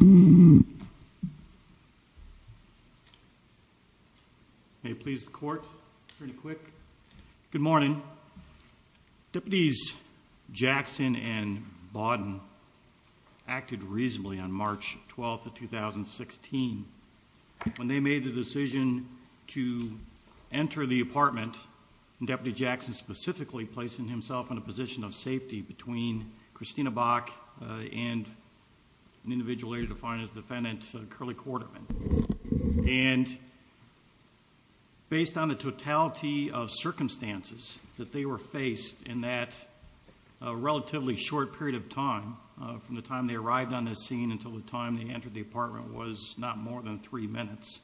May it please the court. Pretty quick. Good morning. Deputies Jackson and Bawden acted reasonably on March 12th of 2016 when they made the decision to enter the apartment and Deputy Jackson specifically placing himself in a individual area defined as defendant Curlie Quarterman and based on the totality of circumstances that they were faced in that relatively short period of time from the time they arrived on this scene until the time they entered the apartment was not more than three minutes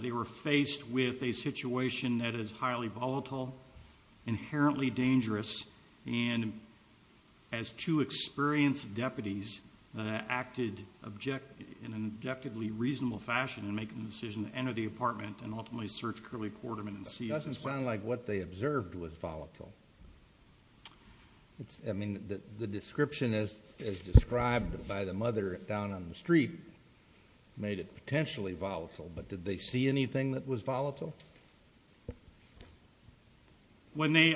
they were faced with a situation that is highly volatile inherently dangerous and as two experienced deputies acted object in an objectively reasonable fashion and making the decision to enter the apartment and ultimately search Curlie Quarterman and see doesn't sound like what they observed was volatile it's I mean that the description is described by the mother down on the street made it potentially volatile but did they see anything that was volatile when they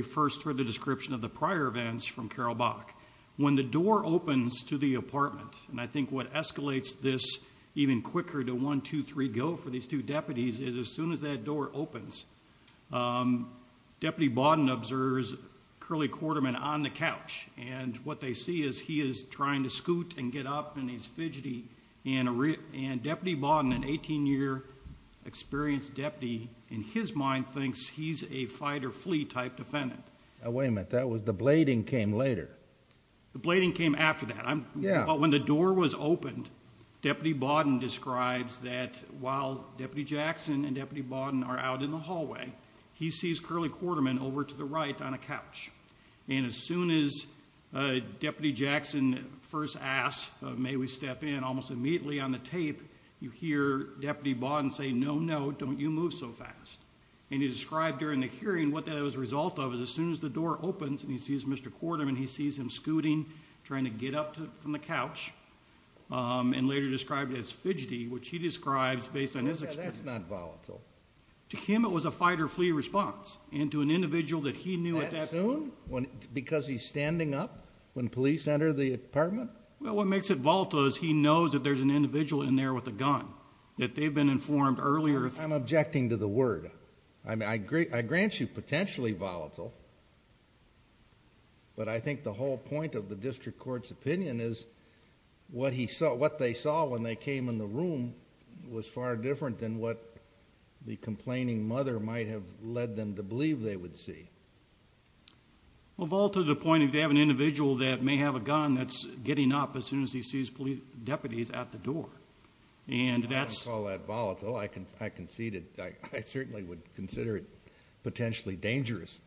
description of the prior events from Carol Bach when the door opens to the apartment and I think what escalates this even quicker to one two three go for these two deputies is as soon as that door opens Deputy Bawden observes Curlie Quarterman on the couch and what they see is he is trying to scoot and get up and he's fidgety and a real and Deputy Bawden an 18-year experienced deputy in his mind thinks he's a fight-or-flee type defendant wait a minute that was the blading came later the blading came after that I'm yeah but when the door was opened Deputy Bawden describes that while Deputy Jackson and Deputy Bawden are out in the hallway he sees Curlie Quarterman over to the right on a couch and as soon as Deputy Jackson first asked may we step in almost immediately on the tape you hear Deputy Bawden say no no don't you move so fast and he described during the hearing what that was result of is as soon as the door opens and he sees Mr. Quarterman he sees him scooting trying to get up to from the couch and later described as fidgety which he describes based on his experience. That's not volatile. To him it was a fight-or-flee response and to an individual that he knew. That soon? Because he's standing up when police enter the apartment? Well what makes it volatile is he knows that there's an individual in there with a gun that they've been informed earlier. I'm objecting to the word I mean I agree I grant you potentially volatile but I think the whole point of the district court's opinion is what he saw what they saw when they came in the room was far different than what the complaining mother might have led them to believe they would see. Well volatile to the point if they have an individual that may have a gun that's getting up as soon as he sees police deputies at the door and that's all that volatile I can I can see that I certainly would consider it potentially dangerous.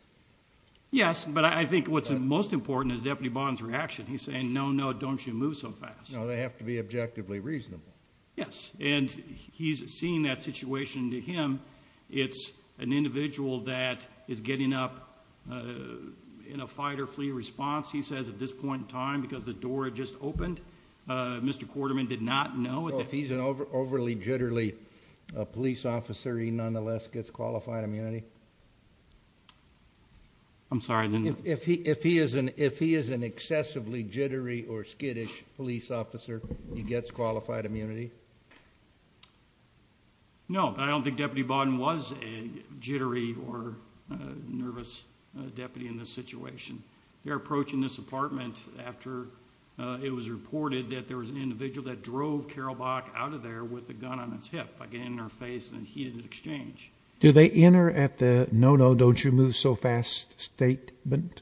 Yes but I think what's most important is Deputy Bawden's reaction he's saying no no don't you move so fast. No they have to be objectively reasonable. Yes and he's seeing that situation to him it's an individual that is getting up in a fight-or-flee response he says at this point in time because the door had just opened Mr. Quarterman did not know. If he's an overly jittery police officer he nonetheless gets qualified immunity? I'm sorry. If he if he is an if he is an excessively jittery or skittish police officer he gets qualified immunity? No I don't think Deputy Bawden was a jittery or nervous deputy in this situation. They're approaching this apartment after it was reported that there was an individual that drove Carol Bach out of there with the gun on its hip by getting in her face and he didn't exchange. Do they enter at the no no don't you move so fast statement?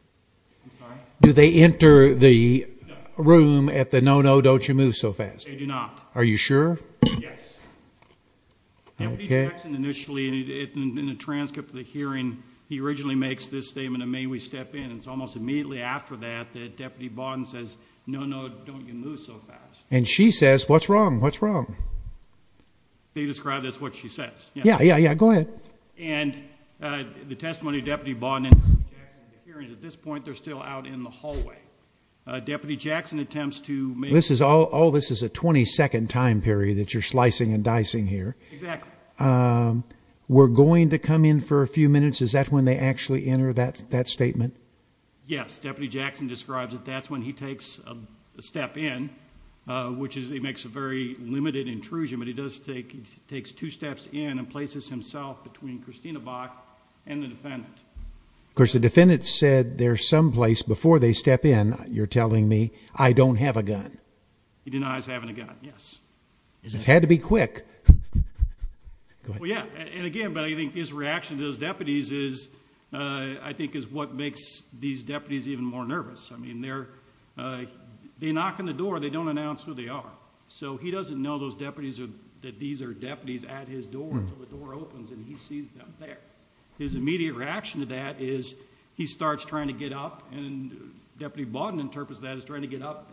Do they enter the room at the no no don't you move so fast? They do not. Are you sure? Yes. Okay. Deputy Jackson initially in a transcript of the hearing he originally makes this statement of may we step in it's almost immediately after that that Deputy Bawden says no no don't you move so fast. And she says what's wrong what's wrong? They described as what she says. Yeah yeah yeah go ahead. And the testimony Deputy Bawden at this point they're still out in the hallway. Deputy Jackson attempts to. This is all this is a 22nd time period that you're slicing and dicing here. Exactly. We're going to come in for a few minutes is that when they actually enter that that statement? Yes. Deputy Jackson describes that that's when he takes a step in which is he makes a very limited intrusion but he does take takes two steps in and places himself between Christina Bach and the defendant. Of course the defendant said there's some place before they step in you're telling me I don't have a gun. He denies having a gun. Yes. It's had to be quick. Yeah and again but I think his reaction to those deputies is I think is what makes these deputies even more nervous. I mean they're they knock on the door they don't announce who they are. So he doesn't know those deputies are that these are deputies at his door. His immediate reaction to that is he doesn't interpret that as trying to get up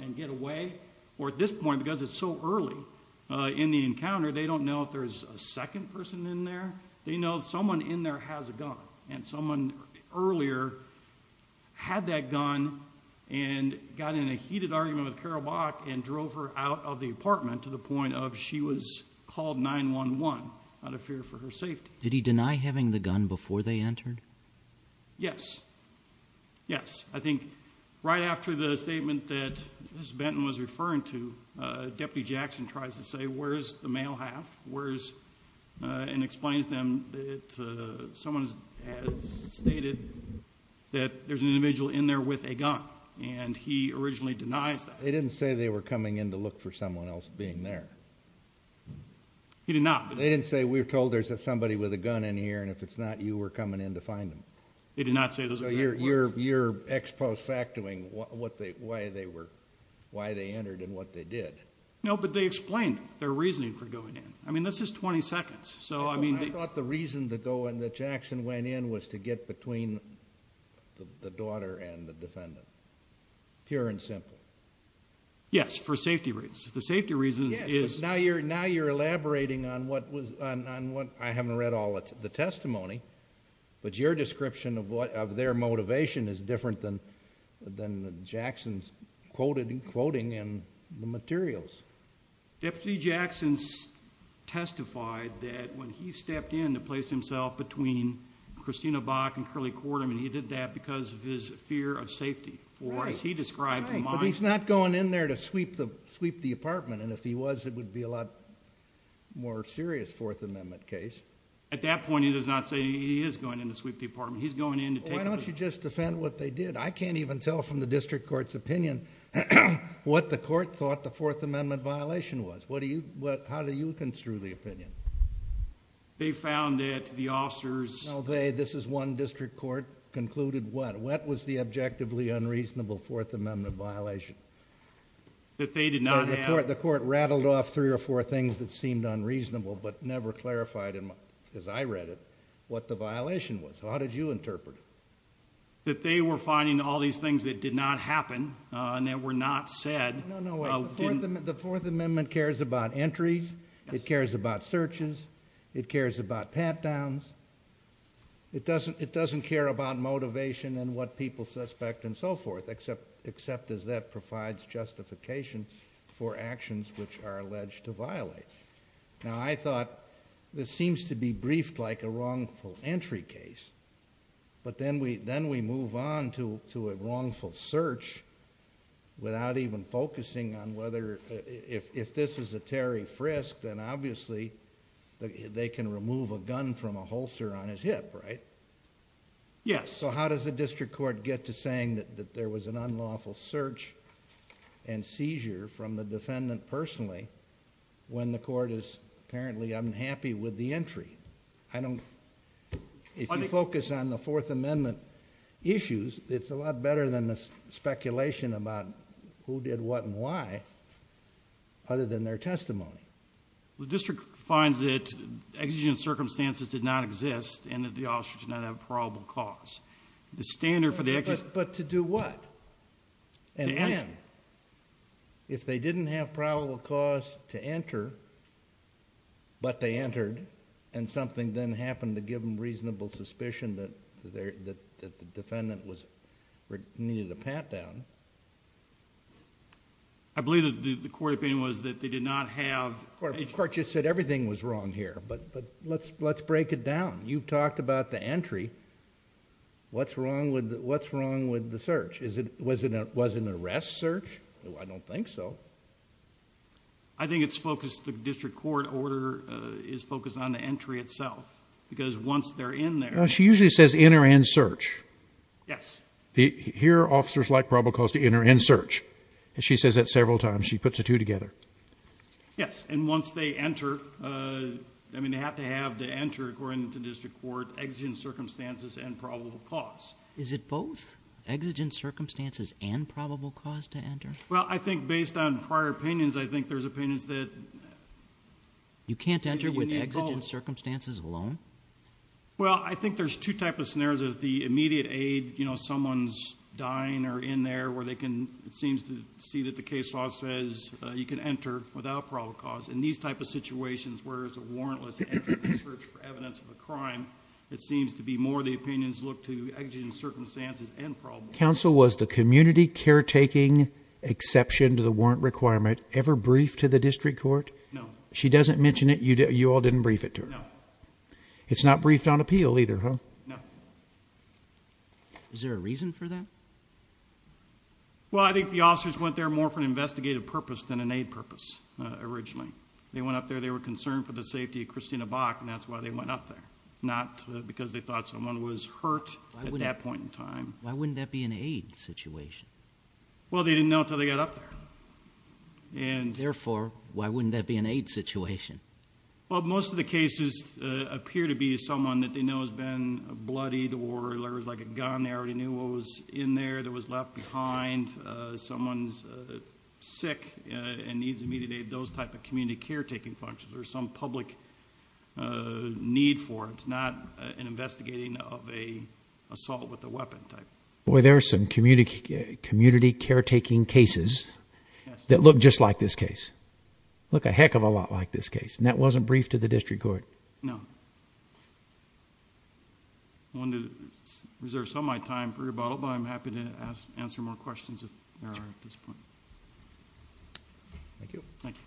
and get away or at this point because it's so early in the encounter they don't know if there's a second person in there. They know someone in there has a gun and someone earlier had that gun and got in a heated argument with Carol Bach and drove her out of the apartment to the point of she was called 9-1-1 out of fear for her safety. Did he deny having the gun before they entered? Yes. Yes. I think right after the statement that Mrs. Benton was referring to Deputy Jackson tries to say where's the male half where's and explains them that someone has stated that there's an individual in there with a gun and he originally denies that. They didn't say they were coming in to look for someone else being there. He did not. They didn't say we're told there's somebody with a gun in here and if it's not you were coming in to find them. They did not say those exact words. So you're ex-post factoring what they why they were why they entered and what they did. No, but they explained their reasoning for going in. I mean this is 20 seconds so I mean... I thought the reason to go in that Jackson went in was to get between the daughter and the defendant. Pure and simple. Yes, for safety reasons. The safety reasons is... Now you're elaborating on what was... I haven't read all the testimony but your description of what of their motivation is different than than Jackson's quoting and the materials. Deputy Jackson testified that when he stepped in to place himself between Christina Bach and Curley Kortum and he did that because of his fear of safety or as he described... And if he was it would be a lot more serious Fourth Amendment case. At that point he does not say he is going in to sweep the apartment. He's going in to take... Why don't you just defend what they did? I can't even tell from the district court's opinion what the court thought the Fourth Amendment violation was. How do you construe the opinion? They found that the officers... No, they. This is one district court concluded what? What was the objectively unreasonable Fourth Amendment violation? That they did not have... The court rattled off three or four things that seemed unreasonable but never clarified, as I read it, what the violation was. How did you interpret it? That they were finding all these things that did not happen and that were not said... No, no. The Fourth Amendment cares about entries. It cares about searches. It cares about pat-downs. It doesn't care about motivation and what people suspect and so forth except as that provides justification for actions which are alleged to violate. I thought this seems to be briefed like a wrongful entry case, but then we move on to a wrongful search without even focusing on whether... If this is a Terry Frisk, then obviously they can remove a gun from a holster on his hip, right? Yes. How does the district court get to saying that there was an unlawful search and seizure from the defendant personally when the court is apparently unhappy with the entry? If you focus on the Fourth Amendment issues, it's a lot better than the speculation about who did what and why other than their testimony. The district finds that exigent circumstances did not exist and that the officer did not have a probable cause. The standard for the... To do what? To enter. If they didn't have probable cause to enter, but they entered and something then happened to give them reasonable suspicion that the defendant needed a pat-down... I believe that the court opinion was that they did not have... The court just said everything was wrong here, but let's break it down. You've got... What's wrong with the search? Was it an arrest search? I don't think so. I think it's focused... The district court order is focused on the entry itself because once they're in there... She usually says enter and search. Yes. Here, officers like probable cause to enter and search. She says that several times. She puts the two together. Yes. Once they enter, they have to have to enter according to district court exigent circumstances and probable cause. Is it both exigent circumstances and probable cause to enter? I think based on prior opinions, I think there's opinions that... You can't enter with exigent circumstances alone? I think there's two types of scenarios. There's the immediate aid. Someone's dying or in there where they can... It seems to see that the case law says you can enter without probable cause. In these type of situations where there's a warrantless search for evidence of a crime, it seems to be more the opinions look to exigent circumstances and probable... Counsel, was the community caretaking exception to the warrant requirement ever briefed to the district court? No. She doesn't mention it. You all didn't brief it to her? No. It's not briefed on appeal either, huh? No. Is there a reason for that? Well, I think the officers went there more for an investigative purpose than an aid purpose originally. They went up there. They were concerned for the safety of Christina Bach, and that's why they went up there. Not because they thought someone was hurt at that point in time. Why wouldn't that be an aid situation? Well, they didn't know until they got up there. Therefore, why wouldn't that be an aid situation? Well, most of the cases appear to be someone that they know has been bloodied or there was a gun. They already knew what was in there that was left behind. Someone's sick and needs immediate aid. Those type of community caretaking functions. There's some public need for it. It's not an investigating of an assault with a weapon type. Boy, there are some community caretaking cases that look just like this case. Look a heck of a lot like this case, and that wasn't briefed to the district court? No. I wanted to reserve some of my time for rebuttal, but I'm happy to answer more questions if there are at this point. Thank you. Thank you.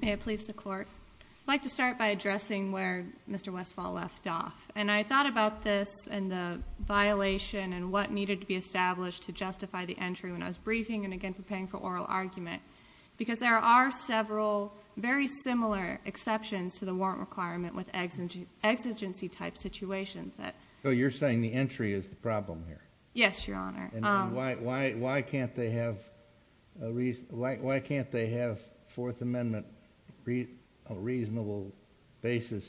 May it please the court? I'd like to start by addressing where Mr. Westphal left off. I thought about this and the violation and what needed to be established to justify the entry when I was briefing and again preparing for the warrant requirement with exigency type situations. You're saying the entry is the problem here? Yes, Your Honor. Why can't they have Fourth Amendment a reasonable basis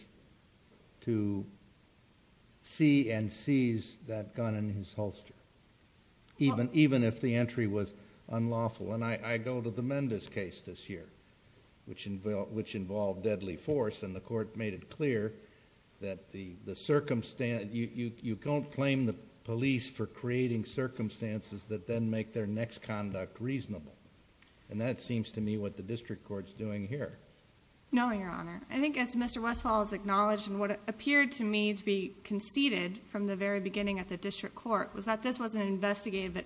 to see and seize that gun in his holster, even if the entry was unlawful? I go to the district court made it clear that you don't claim the police for creating circumstances that then make their next conduct reasonable, and that seems to me what the district court's doing here. No, Your Honor. I think as Mr. Westphal has acknowledged and what appeared to me to be conceded from the very beginning at the district court was that this was an investigative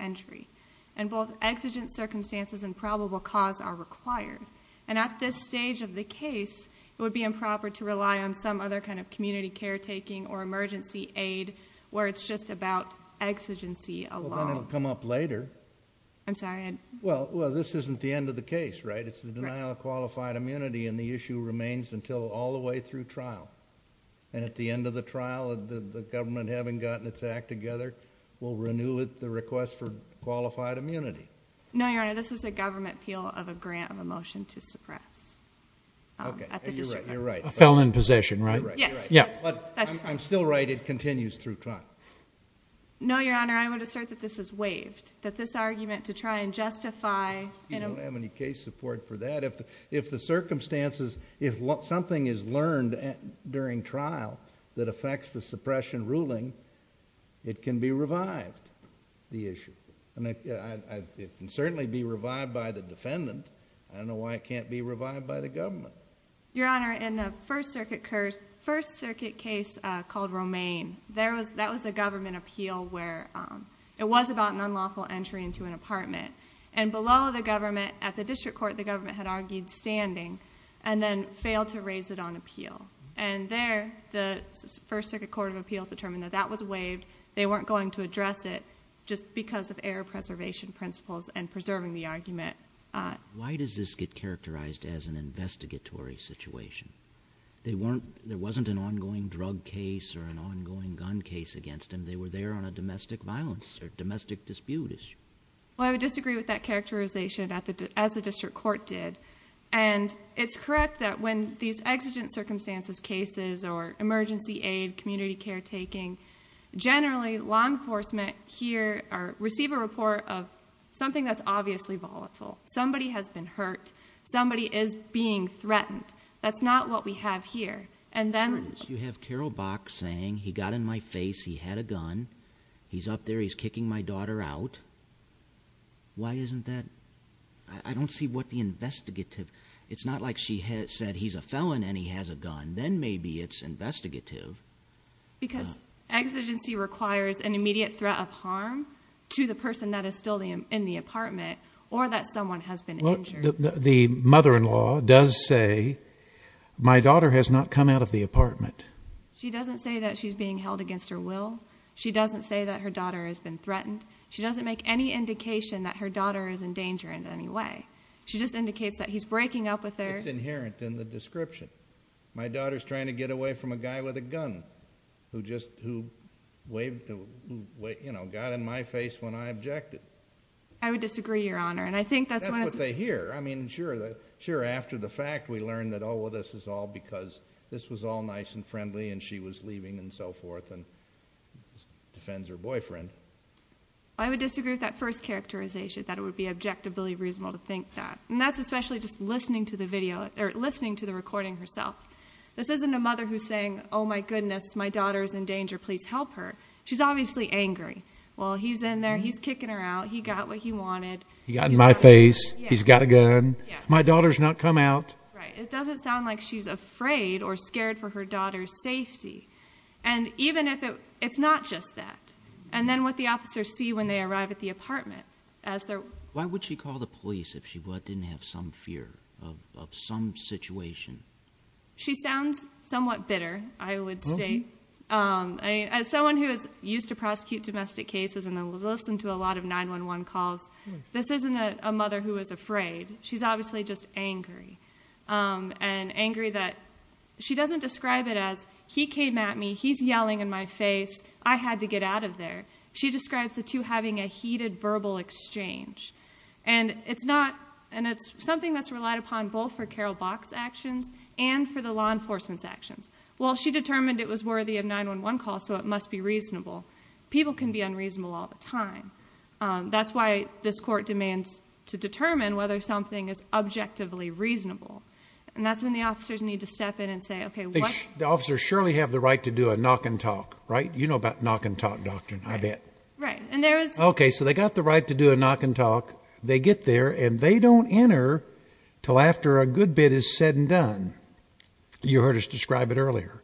entry, and both exigent circumstances and probable cause are required. At this stage of the case, it would be improper to rely on some other kind of community caretaking or emergency aid where it's just about exigency alone. Well, then it would come up later. I'm sorry? Well, this isn't the end of the case, right? It's the denial of qualified immunity, and the issue remains until all the way through trial. At the end of the trial, the government having gotten its act together will renew the request for qualified immunity. No, Your Honor. This is a government appeal of a grant of a motion to suppress at the district court. Okay. You're right. You're right. A felon in possession, right? You're right. You're right. Yes. Yes. But I'm still right it continues through trial. No, Your Honor. I would assert that this is waived, that this argument to try and justify... You don't have any case support for that. If the circumstances, if something is learned during trial that affects the suppression ruling, it can be certainly be revived by the defendant. I don't know why it can't be revived by the government. Your Honor, in the First Circuit case called Romaine, that was a government appeal where it was about an unlawful entry into an apartment. Below the government, at the district court, the government had argued standing and then failed to raise it on appeal. There, the First Circuit Court of Appeals determined that that was waived. They weren't going to address it just because of error preservation principles and preserving the argument. Why does this get characterized as an investigatory situation? There wasn't an ongoing drug case or an ongoing gun case against them. They were there on a domestic violence or domestic dispute issue. Well, I would disagree with that characterization as the district court did. It's correct that when these exigent circumstances cases or emergency aid, community care taking, generally, law enforcement here receive a report of something that's obviously volatile. Somebody has been hurt. Somebody is being threatened. That's not what we have here. And then... You have Carol Bach saying, he got in my face, he had a gun, he's up there, he's kicking my daughter out. Why isn't that... I don't see what the investigative... It's not like she said, he's a felon and he has a gun. Then maybe it's investigative. Because exigency requires an immediate threat of harm to the person that is still in the apartment or that someone has been injured. The mother-in-law does say, my daughter has not come out of the apartment. She doesn't say that she's being held against her will. She doesn't say that her daughter has been threatened. She doesn't make any indication that her daughter is in danger in any way. She just indicates that he's breaking up with her. That's inherent in the description. My daughter is trying to get away from a guy with a gun who just... who got in my face when I objected. I would disagree, Your Honor. That's what they hear. I mean, sure, after the fact, we learn that, oh, this is all because this was all nice and friendly and she was leaving and so forth and defends her boyfriend. I would disagree with that first characterization, that it would be objectively reasonable to think that. And that's especially just listening to the video or listening to the recording herself. This isn't a mother who's saying, oh, my goodness, my daughter is in danger. Please help her. She's obviously angry. Well, he's in there. He's kicking her out. He got what he wanted. He got in my face. He's got a gun. My daughter's not come out. Right. It doesn't sound like she's afraid or scared for her daughter's safety. And even if it... it's not just that. And then what the officers see when they arrive at the apartment as they're... of some situation. She sounds somewhat bitter, I would say. As someone who is used to prosecute domestic cases and has listened to a lot of 911 calls, this isn't a mother who is afraid. She's obviously just angry. And angry that... she doesn't describe it as, he came at me, he's yelling in my face, I had to get out of there. She describes the two having a heated verbal exchange. And it's not... and it's something that's relied upon both for Carole Bock's actions and for the law enforcement's actions. Well, she determined it was worthy of 911 calls, so it must be reasonable. People can be unreasonable all the time. That's why this court demands to determine whether something is objectively reasonable. And that's when the officers need to step in and say, okay, what... The officers surely have the right to do a knock and talk, right? You know about knock and talk doctrine, I bet. Right. And there is... Okay. So they got the right to do a knock and talk. They get there and they don't enter till after a good bit is said and done. You heard us describe it earlier.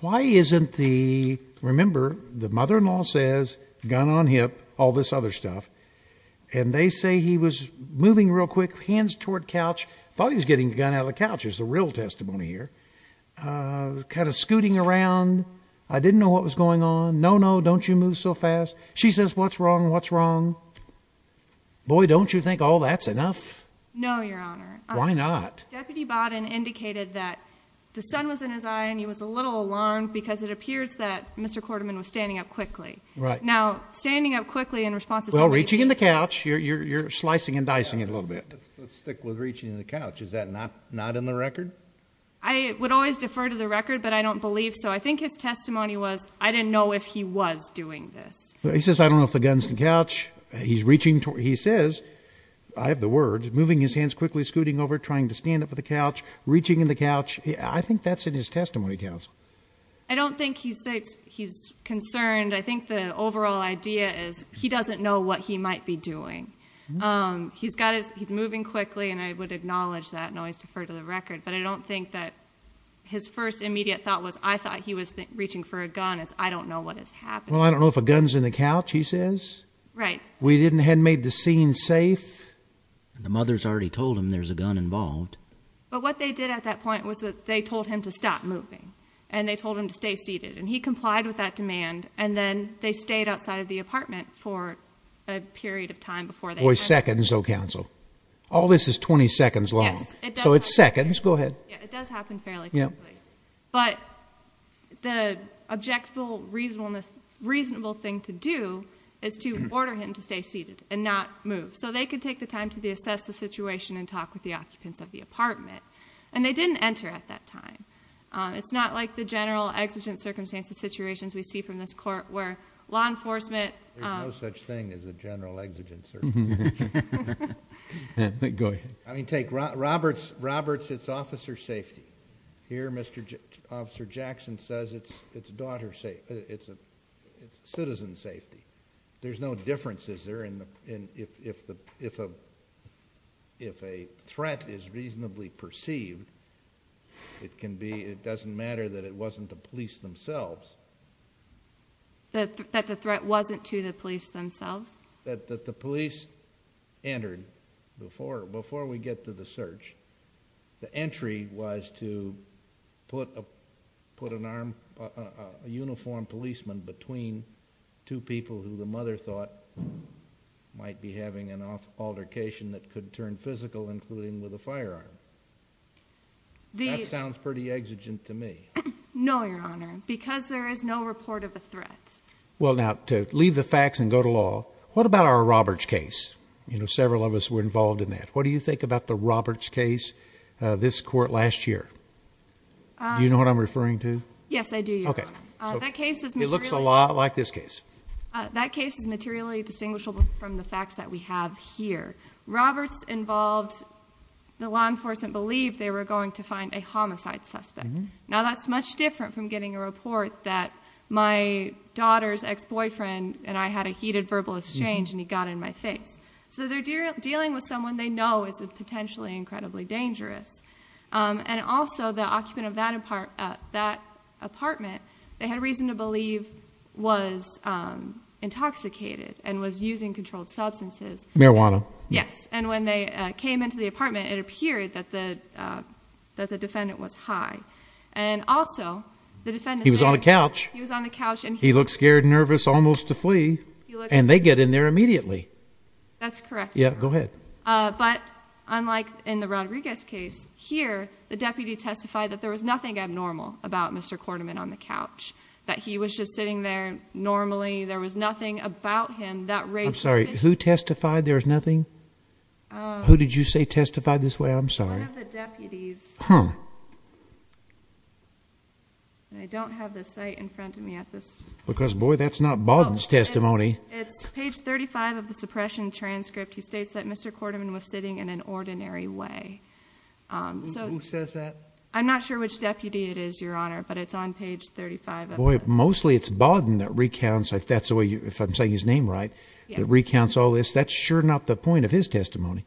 Why isn't the... remember, the mother-in-law says, gun on hip, all this other stuff. And they say he was moving real quick, hands toward couch. Thought he was getting the gun out of the couch, is the real testimony here. Kind of scooting around. I didn't know what was going on. No, no, don't you move so fast. She says, what's wrong, what's wrong? Boy, don't you think all that's enough? No, Your Honor. Why not? Deputy Bodden indicated that the sun was in his eye and he was a little alarmed because it appears that Mr. Quarterman was standing up quickly. Right. Now, standing up quickly in response... Well, reaching in the couch, you're slicing and dicing it a little bit. Let's stick with reaching in the couch. Is that not in the record? I would always defer to the record, but I don't believe so. I think his testimony was, I didn't know if he was doing this. He says, I don't know if the gun's in the couch. He says, I have the word, moving his hands quickly, scooting over, trying to stand up to the couch, reaching in the couch. I think that's in his testimony, counsel. I don't think he's concerned. I think the overall idea is he doesn't know what he might be doing. He's moving quickly and I would acknowledge that and always defer to the record. But I don't think that his first immediate thought was, I thought he was reaching for a gun. It's, I don't know what has happened. Well, I don't know if a gun's in the couch, he says. We didn't, hadn't made the scene safe. The mother's already told him there's a gun involved. But what they did at that point was that they told him to stop moving and they told him to stay seated. And he complied with that demand and then they stayed outside of the apartment for a period of time before they... Boy, seconds, oh, counsel. All this is 20 seconds long. Yes. So it's seconds. Go ahead. Yeah, it does happen fairly quickly. But the objective, reasonable thing to do is to order him to stay seated and not move. So they could take the time to assess the situation and talk with the occupants of the apartment. And they didn't enter at that time. It's not like the general exigent circumstances situations we see from this court where law enforcement... There's no such thing as a general exigent circumstance. Go ahead. I mean, take Roberts, Roberts, it's officer safety. Here, Mr. Officer Jackson says it's daughter safety, it's citizen safety. There's no difference, is there, in if a threat is reasonably perceived, it can be, it doesn't matter that it wasn't the police themselves. That the threat wasn't to the police themselves? That the police entered before, before we get to the search, the entry was to put a, put an arm, a uniformed policeman between two people who the mother thought might be having an altercation that could turn physical, including with a firearm. That sounds pretty exigent to me. No, Your Honor, because there is no report of a threat. Well, now, to leave the facts and go to law, what about our Roberts case? You know, several of us were involved in that. What do you think about the Roberts case, this court last year? Do you know what I'm referring to? Yes, I do, Your Honor. Okay. That case is materially... It looks a lot like this case. That case is materially distinguishable from the facts that we have here. Roberts involved, the law enforcement believed they were going to find a homicide suspect. Now, that's much different from getting a report that my daughter's ex-boyfriend and I had a heated verbal exchange and he got in my face. So, they're dealing with someone they know is potentially incredibly dangerous. And also, the occupant of that apartment, they had reason to believe was intoxicated and was using controlled substances. Marijuana. Yes. And when they came into the apartment, it appeared that the defendant was high. And also, the defendant... He was on a couch. He was on a couch and he... He looked scared, nervous, almost to flee. And they get in there immediately. That's correct, Your Honor. Yeah, go ahead. But, unlike in the Rodriguez case, here, the deputy testified that there was nothing abnormal about Mr. Korteman on the couch. That he was just sitting there normally. There was nothing about him that raised... I'm sorry, who testified there was nothing? Who did you say testified this way? I'm sorry. One of the deputies. I don't have the site in front of me at this... Because, boy, that's not Bowden's testimony. It's page 35 of the suppression transcript. He states that Mr. Korteman was sitting in an ordinary way. Who says that? I'm not sure which deputy it is, Your Honor, but it's on page 35 of it. Boy, mostly it's Bowden that recounts, if that's the way... if I'm saying his name right, that recounts all this. That's sure not the point of his testimony.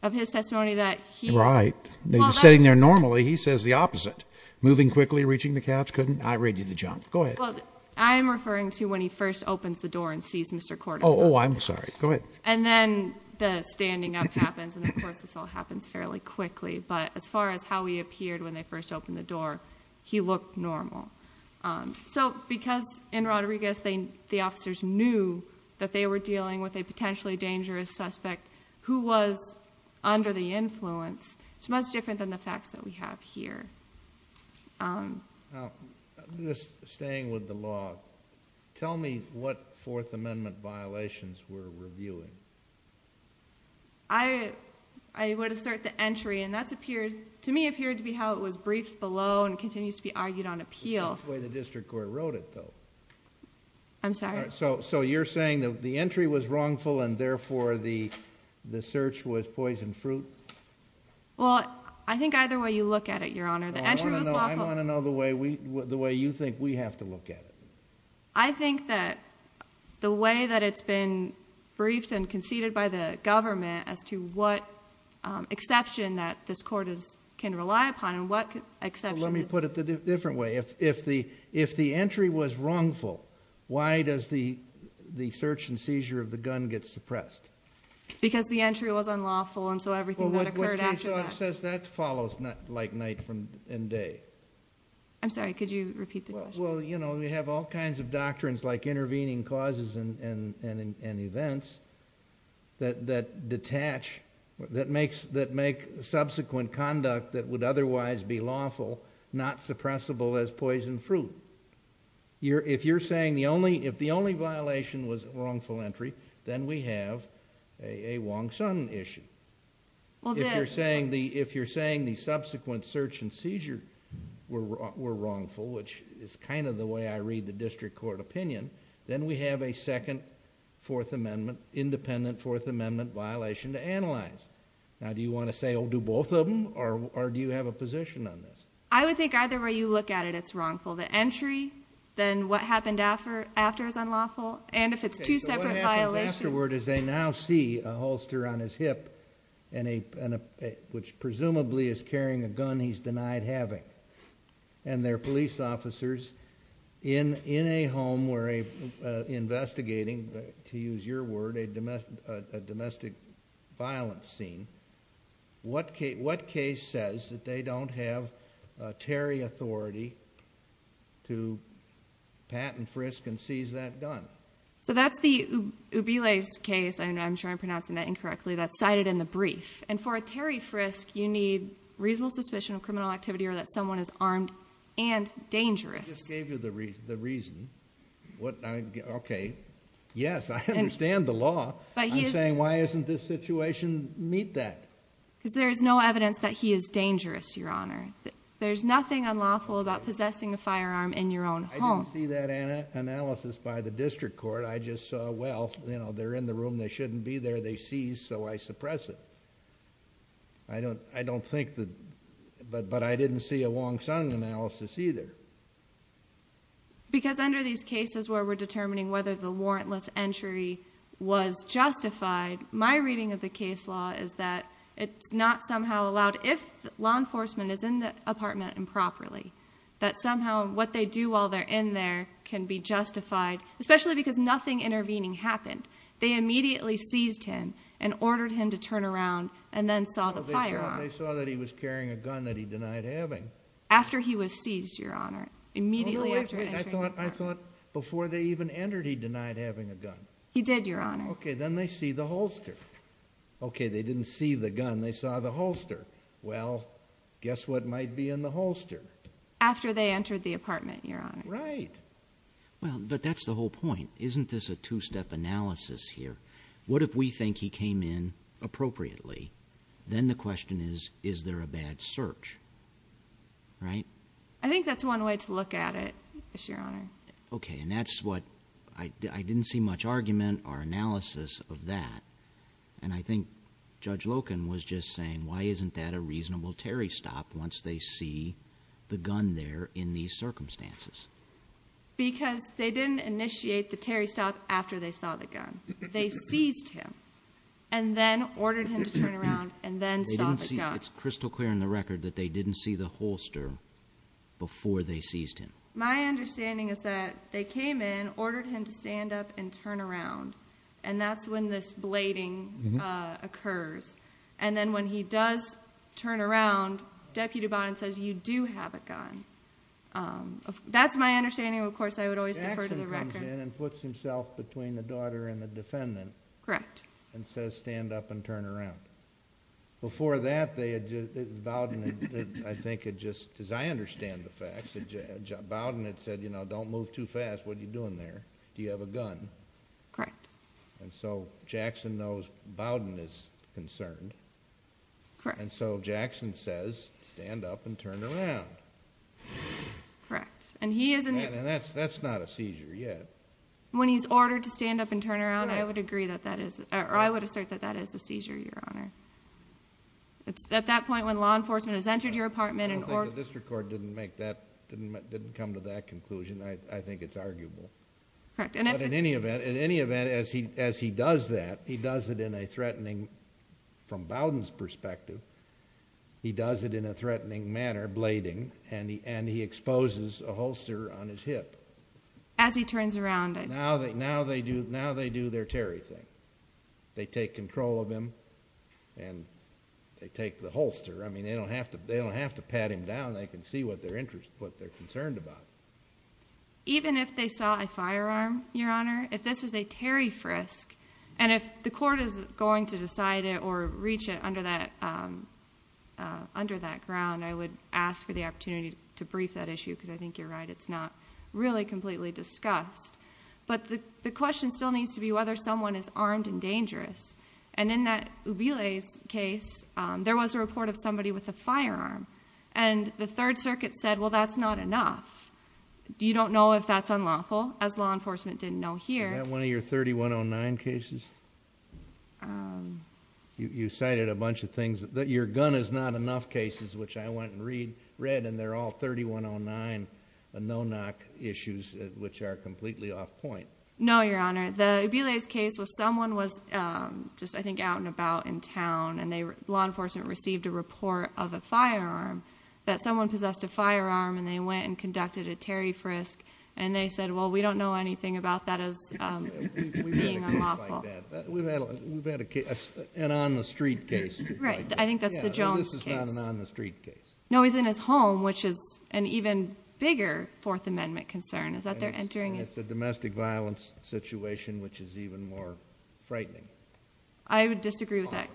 Of his testimony that he... Right. Well, that's... Sitting there normally, he says the opposite. Moving quickly, reaching the couch, couldn't... I read you the junk. Go ahead. Well, I'm referring to when he first opens the door and sees Mr. Korteman. Oh, oh, I'm sorry. Go ahead. And then, the standing up happens. And, of course, this all happens fairly quickly. But, as far as how he appeared when they first opened the door, he looked normal. So, because, in Rodriguez, they... the officers knew that they were dealing with a potentially dangerous suspect who was under the influence, it's much different than the facts that we have here. Now, just staying with the law, tell me what Fourth Amendment violations we're reviewing. I... I would assert the entry, and that's appeared... to me, appeared to be how it was briefed below and continues to be argued on appeal. The way the district court wrote it, though. I'm sorry? So, you're saying that the entry was wrongful and, therefore, the search was poison fruit? Well, I think either way you look at it, Your Honor. The entry was lawful. I want to know the way we... the way you think we have to look at it. I think that the way that it's been briefed and conceded by the government as to what exception that this court is... can rely upon and what exception... the search and seizure of the gun gets suppressed. Because the entry was unlawful, and so everything that occurred after that... Well, what case law says that follows like night and day. I'm sorry. Could you repeat the question? Well, you know, we have all kinds of doctrines like intervening causes and events that detach... that make subsequent conduct that would otherwise be lawful not suppressible as poison fruit. If you're saying the only... if the only violation was wrongful entry, then we have a Wong-Sun issue. Well, the... If you're saying the subsequent search and seizure were wrongful, which is kind of the way I read the district court opinion, then we have a second Fourth Amendment... independent Fourth Amendment violation to analyze. Now, do you want to say, oh, do both of them or do you have a position on this? I would think either way you look at it, it's wrongful. The entry, then what happened after is unlawful, and if it's two separate violations... Okay, so what happens afterward is they now see a holster on his hip and a... which presumably is carrying a gun he's denied having, and they're police officers in a home where a investigating, to use your word, a domestic violence scene. What case says that they don't have a Terry authority to pat and frisk and seize that gun? So that's the Ubile's case, and I'm sure I'm pronouncing that incorrectly, that's cited in the brief. And for a Terry frisk, you need reasonable suspicion of criminal activity or that someone is armed and dangerous. I just gave you the reason. Okay, yes, I understand the law. I'm saying why doesn't this situation meet that? Because there's no evidence that he is dangerous, Your Honor. There's nothing unlawful about possessing a firearm in your own home. I didn't see that analysis by the district court. I just saw, well, you know, they're in the room, they shouldn't be there, they seize, so I suppress it. I don't think that... but I didn't see a Wong Sung analysis either. Because under these cases where we're determining whether the gun is justified, my reading of the case law is that it's not somehow allowed, if law enforcement is in the apartment improperly, that somehow what they do while they're in there can be justified, especially because nothing intervening happened. They immediately seized him and ordered him to turn around and then saw the firearm. They saw that he was carrying a gun that he denied having. After he was seized, Your Honor. Immediately after entering the apartment. I thought before they even entered, he denied having a gun. He did, Your Honor. Okay, then they see the holster. Okay, they didn't see the gun, they saw the holster. Well, guess what might be in the holster? After they entered the apartment, Your Honor. Right. Well, but that's the whole point. Isn't this a two-step analysis here? What if we think he came in appropriately? Then the question is, is there a bad search? Right? I think that's one way to look at it, Your Honor. Okay, and that's what I didn't see much argument or analysis of that. And I think Judge Loken was just saying, why isn't that a reasonable Terry stop once they see the gun there in these circumstances? Because they didn't initiate the Terry stop after they saw the gun. They seized him and then ordered him to turn around and then saw the gun. It's crystal clear in the record that they didn't see the holster before they seized him. My understanding is that they came in, ordered him to stand up and turn around. And that's when this blading occurs. And then when he does turn around, Deputy Bowden says, you do have a gun. That's my understanding. Of course, I would always defer to the record. The action comes in and puts himself between the daughter and the defendant. Correct. And says, stand up and turn around. Before that, Bowden, I think, had just, as I understand the record, Bowden had said, you know, don't move too fast. What are you doing there? Do you have a gun? Correct. And so Jackson knows Bowden is concerned. Correct. And so Jackson says, stand up and turn around. Correct. And he isn't. And that's not a seizure yet. When he's ordered to stand up and turn around, I would agree that that is, or I would assert that that is a seizure, Your Honor. It's at that point when law enforcement has entered your apartment. I don't think the district court didn't come to that conclusion. I think it's arguable. Correct. But in any event, as he does that, he does it in a threatening, from Bowden's perspective, he does it in a threatening manner, blading, and he exposes a holster on his hip. As he turns around. Now they do their Terry thing. They take control of him and they take the holster. I mean, they don't have to pat him down. They can see what they're concerned about. Even if they saw a firearm, Your Honor, if this is a Terry frisk, and if the court is going to decide it or reach it under that ground, I would ask for the opportunity to brief that issue because I think you're right. It's not really completely discussed. But the question still needs to be whether someone is armed and dangerous. And in that Ubile's case, there was a report of somebody with a firearm. And the Third Circuit said, well, that's not enough. You don't know if that's unlawful, as law enforcement didn't know here. Is that one of your 3109 cases? You cited a bunch of things. Your gun is not enough cases, which I went and read, and they're all 3109 no-knock issues, which are completely off point. No, Your Honor. The Ubile's case was someone was just, I think, out and about in town, and law enforcement received a report of a firearm, that someone possessed a firearm, and they went and conducted a Terry frisk. And they said, well, we don't know anything about that as being unlawful. We've had a case like that. We've had a case, an on-the-street case. Right. I think that's the Jones case. This is not an on-the-street case. No, he's in his home, which is an even bigger Fourth Amendment concern, is that they're entering his... It's a domestic violence situation, which is even more frightening. I would disagree with that.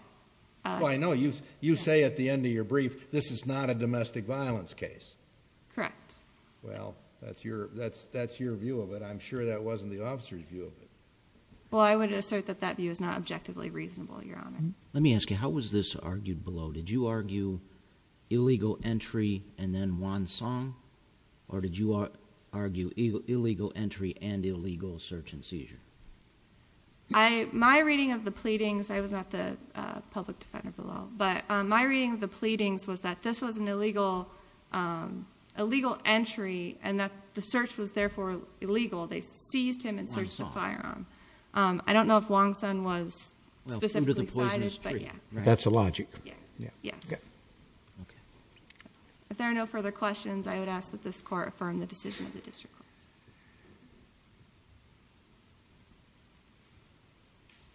Oh, I know. You say at the end of your brief, this is not a domestic violence case. Correct. Well, that's your view of it. I'm sure that wasn't the officer's view of it. Well, I would assert that that view is not objectively reasonable, Your Honor. Let me ask you, how was this argued below? Did you argue illegal entry and then one song, or did you argue illegal entry and illegal search and seizure? My reading of the pleadings... I was not the public defender below, but my reading of the pleadings was that this was an illegal entry and that the search was therefore illegal. They seized him and searched the firearm. I don't know if Wong-Sun was specifically cited, but yeah. That's the logic. Yes. Okay. If there are no further questions, I would ask that this be adjourned. Thank you.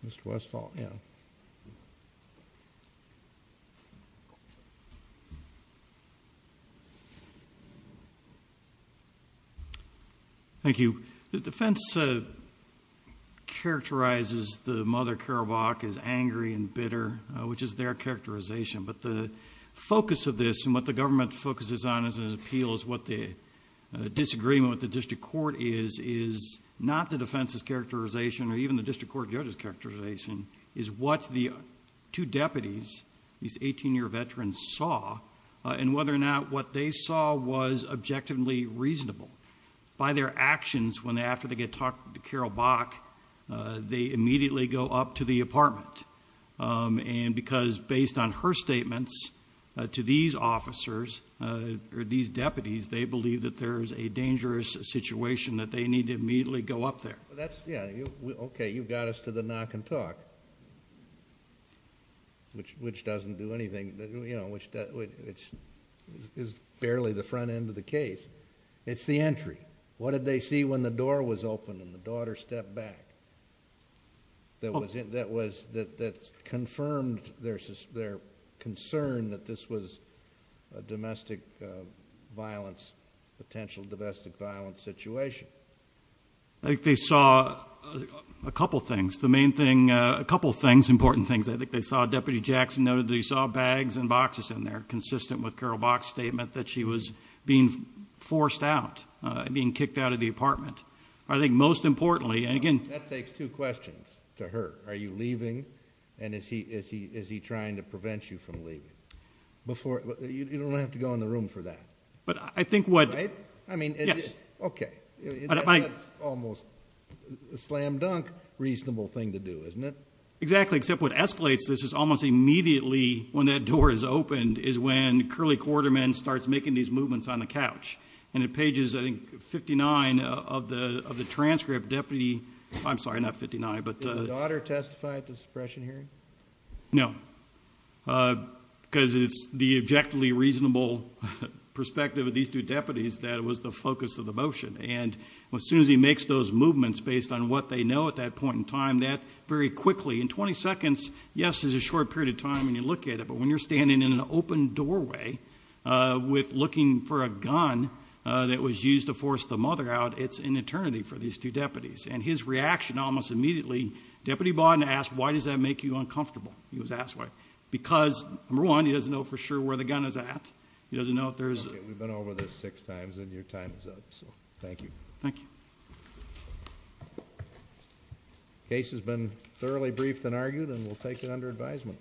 Mr. Westphal? Yeah. Thank you. The defense characterizes the Mother Kerouac as angry and bitter, which is their characterization, but the focus of this and what the government focuses on as an appeal is what the disagreement with the district court is, is not the defense's characterization or even the district court judge's characterization, is what the two deputies, these eighteen-year veterans saw, and whether or not what they saw was objectively reasonable. By their actions, when after they get talked to Kerouac, they immediately go up to the apartment, and because based on her statements to these officers, or these deputies, they believe that there is a dangerous situation, that they need to immediately go up there. Yeah. Okay. You've got us to the knock and talk, which doesn't do anything, which is barely the front end of the case. It's the entry. What did they see when the door was opened and the daughter stepped back that confirmed their concern that this was a potential domestic violence situation? I think they saw a couple things. The main thing, a couple things, important things. I think they saw, Deputy Jackson noted that he saw bags and boxes in there, consistent with Kerouac's statement that she was being forced out, being kicked out of the apartment. I think most importantly, and again... That takes two questions to her. Are you leaving, and is he trying to prevent you from leaving? You don't have to go in the room for that. But I think what... Right? I mean... Yes. Okay. That's almost a slam dunk reasonable thing to do, isn't it? Exactly. Except what escalates this is almost immediately, when that door is opened, is when Curly Quarterman starts making these movements on the couch. And at pages, I think, 59 of the transcript, Deputy... I'm sorry, not 59, but... Did the daughter testify at the suppression hearing? No. Because it's the objectively reasonable perspective of these two deputies that was the focus of the motion. And as soon as he makes those movements, based on what they know at that point in time, that very quickly, in 20 seconds, yes, is a short period of time when you look at it. But when you're standing in an open doorway with... looking for a gun that was used to force the mother out, it's an eternity for these two deputies. And his reaction almost immediately... uncomfortable, he was asked why. Because, number one, he doesn't know for sure where the gun is at. He doesn't know if there's... Okay. We've been over this six times, and your time is up. So, thank you. Thank you. The case has been thoroughly briefed and argued, and we'll take it under advisement.